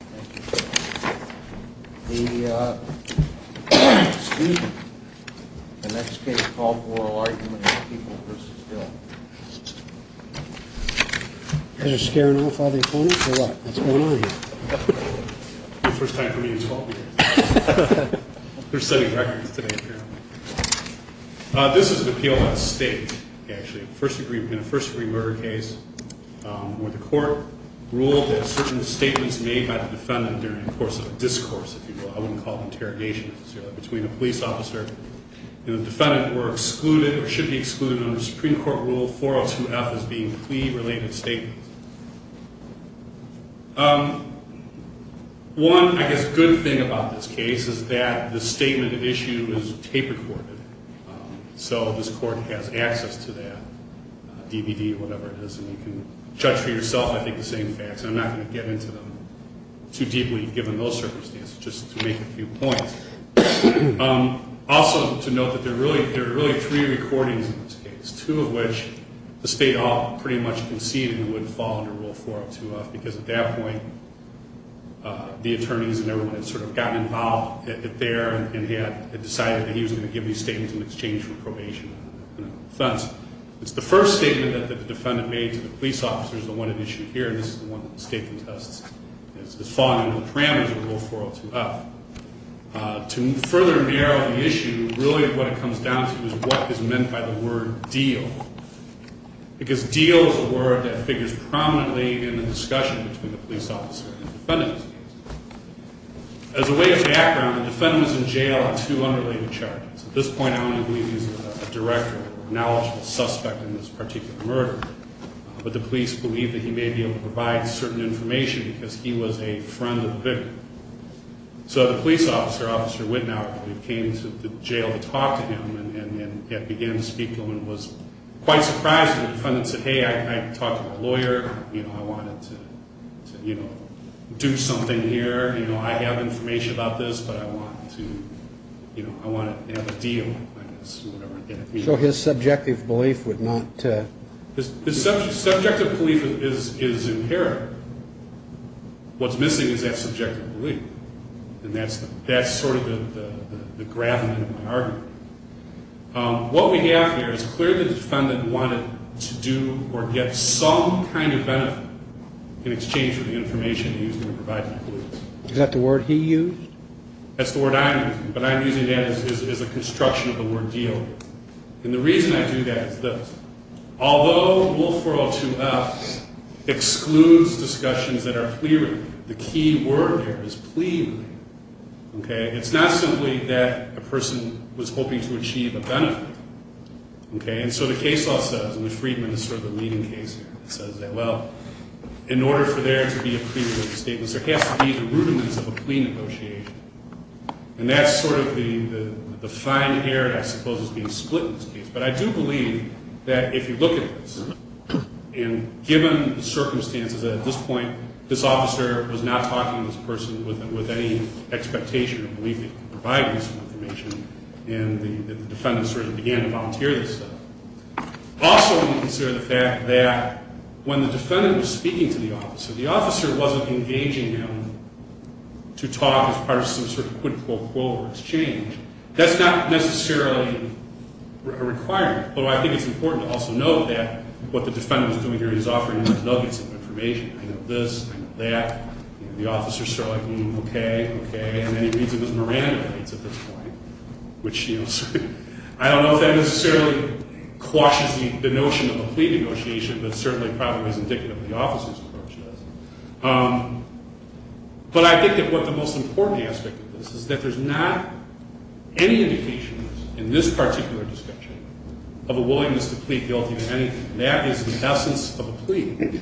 The next case is called Oral Argument on People v. Hill. You guys are scaring off all the opponents or what? That's one argument. First time for me in 12 years. They're setting records today apparently. This is an appeal by the state, actually. First degree murder case where the court ruled that certain statements made by the defendant during the course of a discourse, if you will. I wouldn't call it an interrogation necessarily, between a police officer and the defendant were excluded or should be excluded under Supreme Court Rule 402F as being plea-related statements. One, I guess, good thing about this case is that the statement issue is taper-corded. So this court has access to that, DVD or whatever it is, and you can judge for yourself, I think, the same facts. I'm not going to get into them too deeply given those circumstances, just to make a few points. Also to note that there are really three recordings in this case, two of which the state all pretty much conceded would fall under Rule 402F in exchange for probation and offense. It's the first statement that the defendant made to the police officer is the one at issue here. This is the one that the state contests as falling under the parameters of Rule 402F. To further narrow the issue, really what it comes down to is what is meant by the word deal. Because deal is a word that figures prominently in the discussion between the police officer and the defendant. As a way of background, the defendant was in jail on two unrelated charges. At this point, I only believe he's a direct or knowledgeable suspect in this particular murder, but the police believe that he may be able to provide certain information because he was a friend of the victim. So the police officer, Officer Wittenauer, came to the jail to talk to him and began to speak to him and was quite surprised. The defendant said, hey, I talked to my lawyer. I wanted to do something here. I have information about this, but I want to have a deal. So his subjective belief would not? His subjective belief is inherent. What's missing is that subjective belief, and that's sort of the gravamen of my argument. What we have here is clearly the defendant wanted to do or get some kind of benefit in exchange for the information he was going to provide to the police. Is that the word he used? That's the word I'm using, but I'm using that as a construction of the word deal. And the reason I do that is this. Although Rule 402F excludes discussions that are pleading, the key word there is pleading. It's not simply that a person was hoping to achieve a benefit. And so the case law says, and the Freedman is sort of the leading case here, it says that, well, in order for there to be a pleading statement, there has to be the rudiments of a plea negotiation. And that's sort of the fine air, I suppose, is being split in this case. But I do believe that if you look at this, and given the circumstances at this point, this officer was not talking to this person with any expectation or belief in providing some information, and the defendant sort of began to volunteer this stuff. Also, when you consider the fact that when the defendant was speaking to the officer, the officer wasn't engaging him to talk as part of some sort of quid pro quo or exchange. That's not necessarily a requirement. Although I think it's important to also note that what the defendant was doing here is offering him nuggets of information. I know this, I know that. The officer's sort of like, hmm, okay, okay. And then he reads him his Miranda notes at this point, which, you know, I don't know if that necessarily quashes the notion of a plea negotiation, but certainly probably is indicative of the officer's approach to this. But I think that what the most important aspect of this is that there's not any indication in this particular description of a willingness to plea guilty of anything. That is the essence of a plea,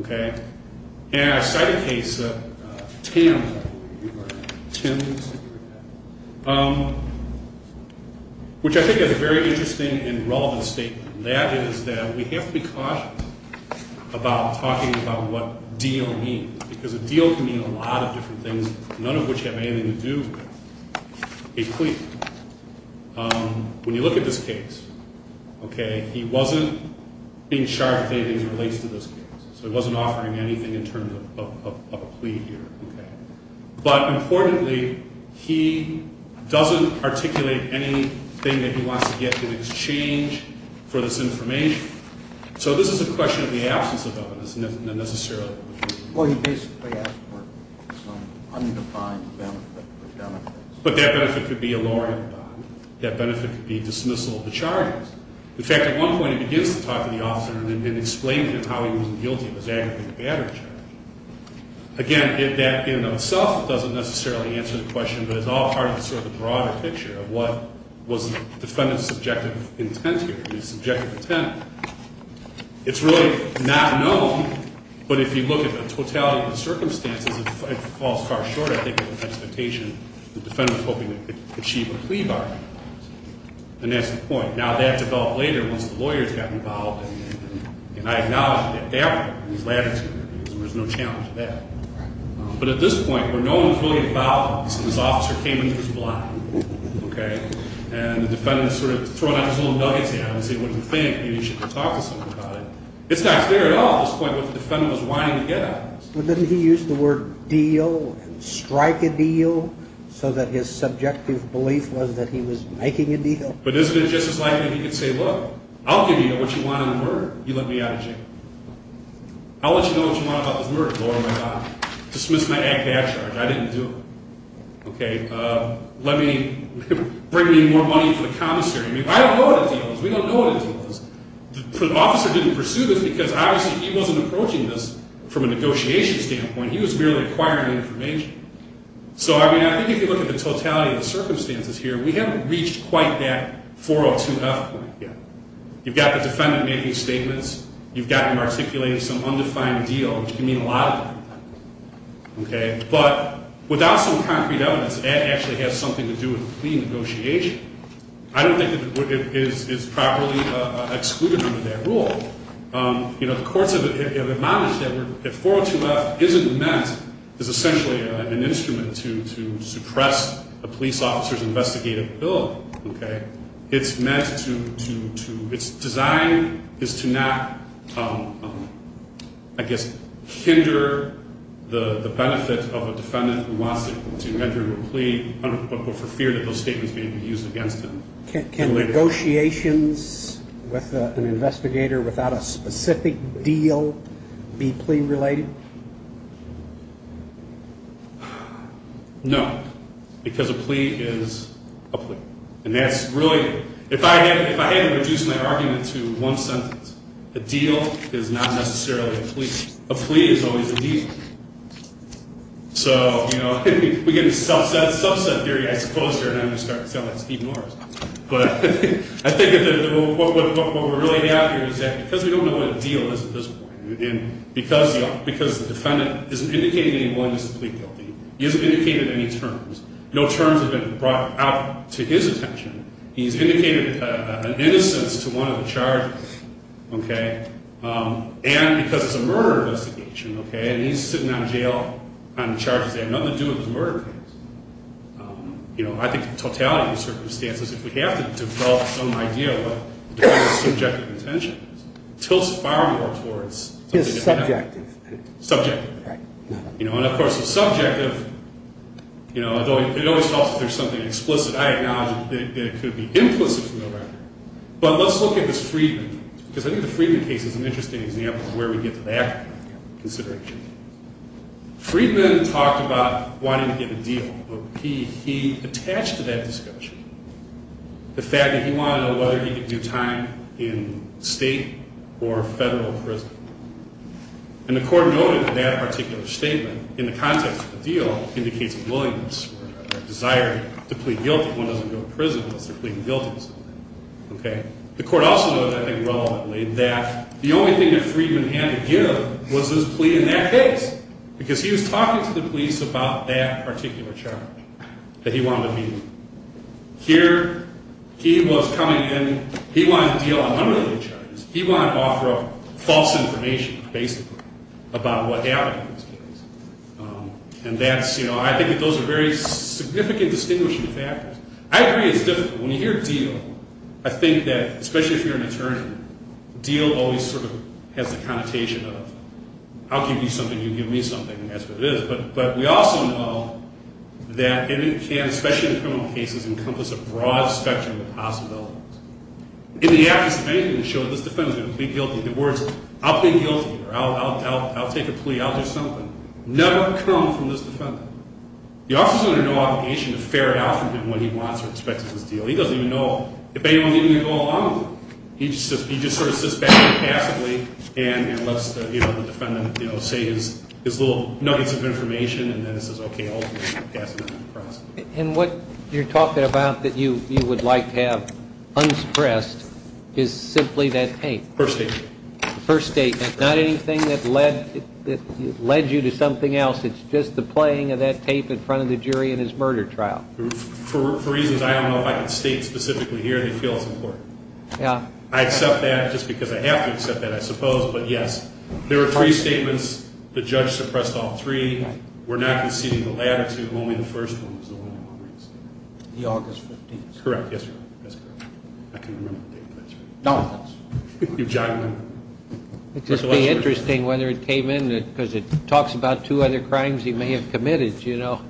okay? And I cite a case, TAM, which I think is a very interesting and relevant statement. And that is that we have to be cautious about talking about what deal means, because a deal can mean a lot of different things, none of which have anything to do with a plea. When you look at this case, okay, he wasn't being charged with anything that relates to this case. So he wasn't offering anything in terms of a plea here, okay? But importantly, he doesn't articulate anything that he wants to get through this change for this information. So this is a question of the absence of evidence, not necessarily of a plea. Well, he basically asked for some undefined benefit or benefits. But that benefit could be a lawyer. That benefit could be dismissal of the charges. In fact, at one point he begins to talk to the officer and explain to him how he wasn't guilty of his aggravated battery charge. Again, that in and of itself doesn't necessarily answer the question, but it's all part of sort of the broader picture of what was the defendant's subjective intent here, his subjective intent. It's really not known, but if you look at the totality of the circumstances, it falls far short, I think, of the expectation the defendant was hoping to achieve a plea bargain. And that's the point. Now, that developed later once the lawyers got involved. And I acknowledge that there was latitude. There was no challenge to that. But at this point, where no one was really involved, this officer came into his blind. Okay? And the defendant sort of threw out his little nuggets at him and said, what do you think? Maybe you should talk to someone about it. It's not clear at all at this point what the defendant was wanting to get at. But didn't he use the word deal and strike a deal so that his subjective belief was that he was making a deal? But isn't it just as likely that he could say, look, I'll give you what you want on the murder. You let me out of jail. I'll let you know what you want about this murder. Lord, my God. Dismiss my act of discharge. I didn't do it. Okay? Let me bring me more money for the commissary. I don't know what a deal is. We don't know what a deal is. The officer didn't pursue this because, obviously, he wasn't approaching this from a negotiation standpoint. He was merely acquiring information. So, I mean, I think if you look at the totality of the circumstances here, we haven't reached quite that 402F point yet. You've got the defendant making statements. You've got him articulating some undefined deal, which can mean a lot of things. Okay? But without some concrete evidence, that actually has something to do with the plea negotiation. I don't think it is properly excluded under that rule. You know, the courts have admonished that 402F isn't meant as essentially an instrument to suppress a police officer's investigative ability. Okay? It's meant to – its design is to not, I guess, hinder the benefit of a defendant who wants to enter into a plea for fear that those statements may be used against him. Can negotiations with an investigator without a specific deal be plea related? No. Because a plea is a plea. And that's really – if I had to reduce my argument to one sentence, a deal is not necessarily a plea. A plea is always a deal. So, you know, we get into subset theory, I suppose, here, and I'm going to start to sound like Steve Norris. But I think what we're really after is that because we don't know what a deal is at this point, and because the defendant isn't indicating any willingness to plead guilty, he hasn't indicated any terms. No terms have been brought out to his attention. He's indicated an innocence to one of the charges. Okay? And because it's a murder investigation, okay, and he's sitting on jail on charges there, nothing to do with the murder case. You know, I think the totality of the circumstances, if we have to develop some idea of what the defendant's subjective intention is, tilts far more towards something different. His subjective. Subjective. Right. You know, and, of course, the subjective – you know, it always helps if there's something explicit. I acknowledge that it could be implicit from the record. But let's look at this Freedman, because I think the Freedman case is an interesting example of where we get to that consideration. Freedman talked about wanting to get a deal. He attached to that discussion the fact that he wanted to know whether he could do time in state or federal prison. And the court noted that that particular statement in the context of the deal indicates a willingness or a desire to plead guilty. Okay? The court also noted, I think relevantly, that the only thing that Freedman had to give was his plea in that case. Because he was talking to the police about that particular charge that he wanted to meet with. Here, he was coming in – he wanted to deal on unrelated charges. He wanted to offer up false information, basically, about what happened in this case. And that's – you know, I think that those are very significant distinguishing factors. I agree it's difficult. When you hear deal, I think that, especially if you're an attorney, deal always sort of has the connotation of, I'll give you something, you give me something, and that's what it is. But we also know that it can, especially in criminal cases, encompass a broad spectrum of possibilities. In the absence of anything to show that this defendant's going to plead guilty, the words, I'll plead guilty, or I'll take a plea, I'll do something, never come from this defendant. The officer's under no obligation to ferret out from him what he wants or expects of this deal. He doesn't even know if anyone's even going to go along with it. He just sort of sits back passively and lets the defendant say his little nuggets of information, and then says, okay, I'll pass it on to the prosecutor. And what you're talking about that you would like to have unsuppressed is simply that tape. First statement. First statement. Not anything that led you to something else. It's just the playing of that tape in front of the jury in his murder trial. For reasons I don't know if I can state specifically here, they feel it's important. Yeah. I accept that just because I have to accept that, I suppose, but yes. There were three statements. The judge suppressed all three. We're not conceding the latter two. Only the first one was the one I want to raise. The August 15th. Correct. Yes, Your Honor. That's correct. I couldn't remember the date, but that's right. Don't. You've jotted them down. It'd just be interesting whether it came in because it talks about two other crimes he may have committed, you know.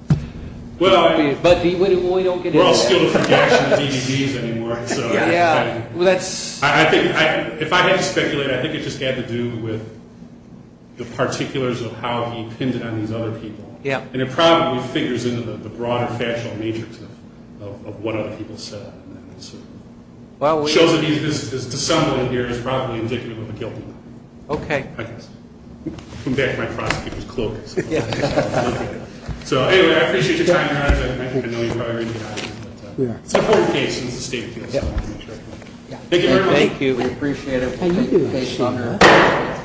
But we don't get into that. We're all skilled at projection DVDs anymore, so. Yeah, well, that's. If I had to speculate, I think it just had to do with the particulars of how he pinned it on these other people. Yeah. And it probably figures into the broader factual matrix of what other people said. It shows that this dissembling here is probably indicative of a guilty law. Okay. I guess. I'll come back to my prosecutor's cloak. So, anyway, I appreciate your time, Your Honor. I know you probably already got it. It's a hold case. It's a state case. Thank you, Your Honor. Thank you. We appreciate it. Thank you. Thank you, Your Honor.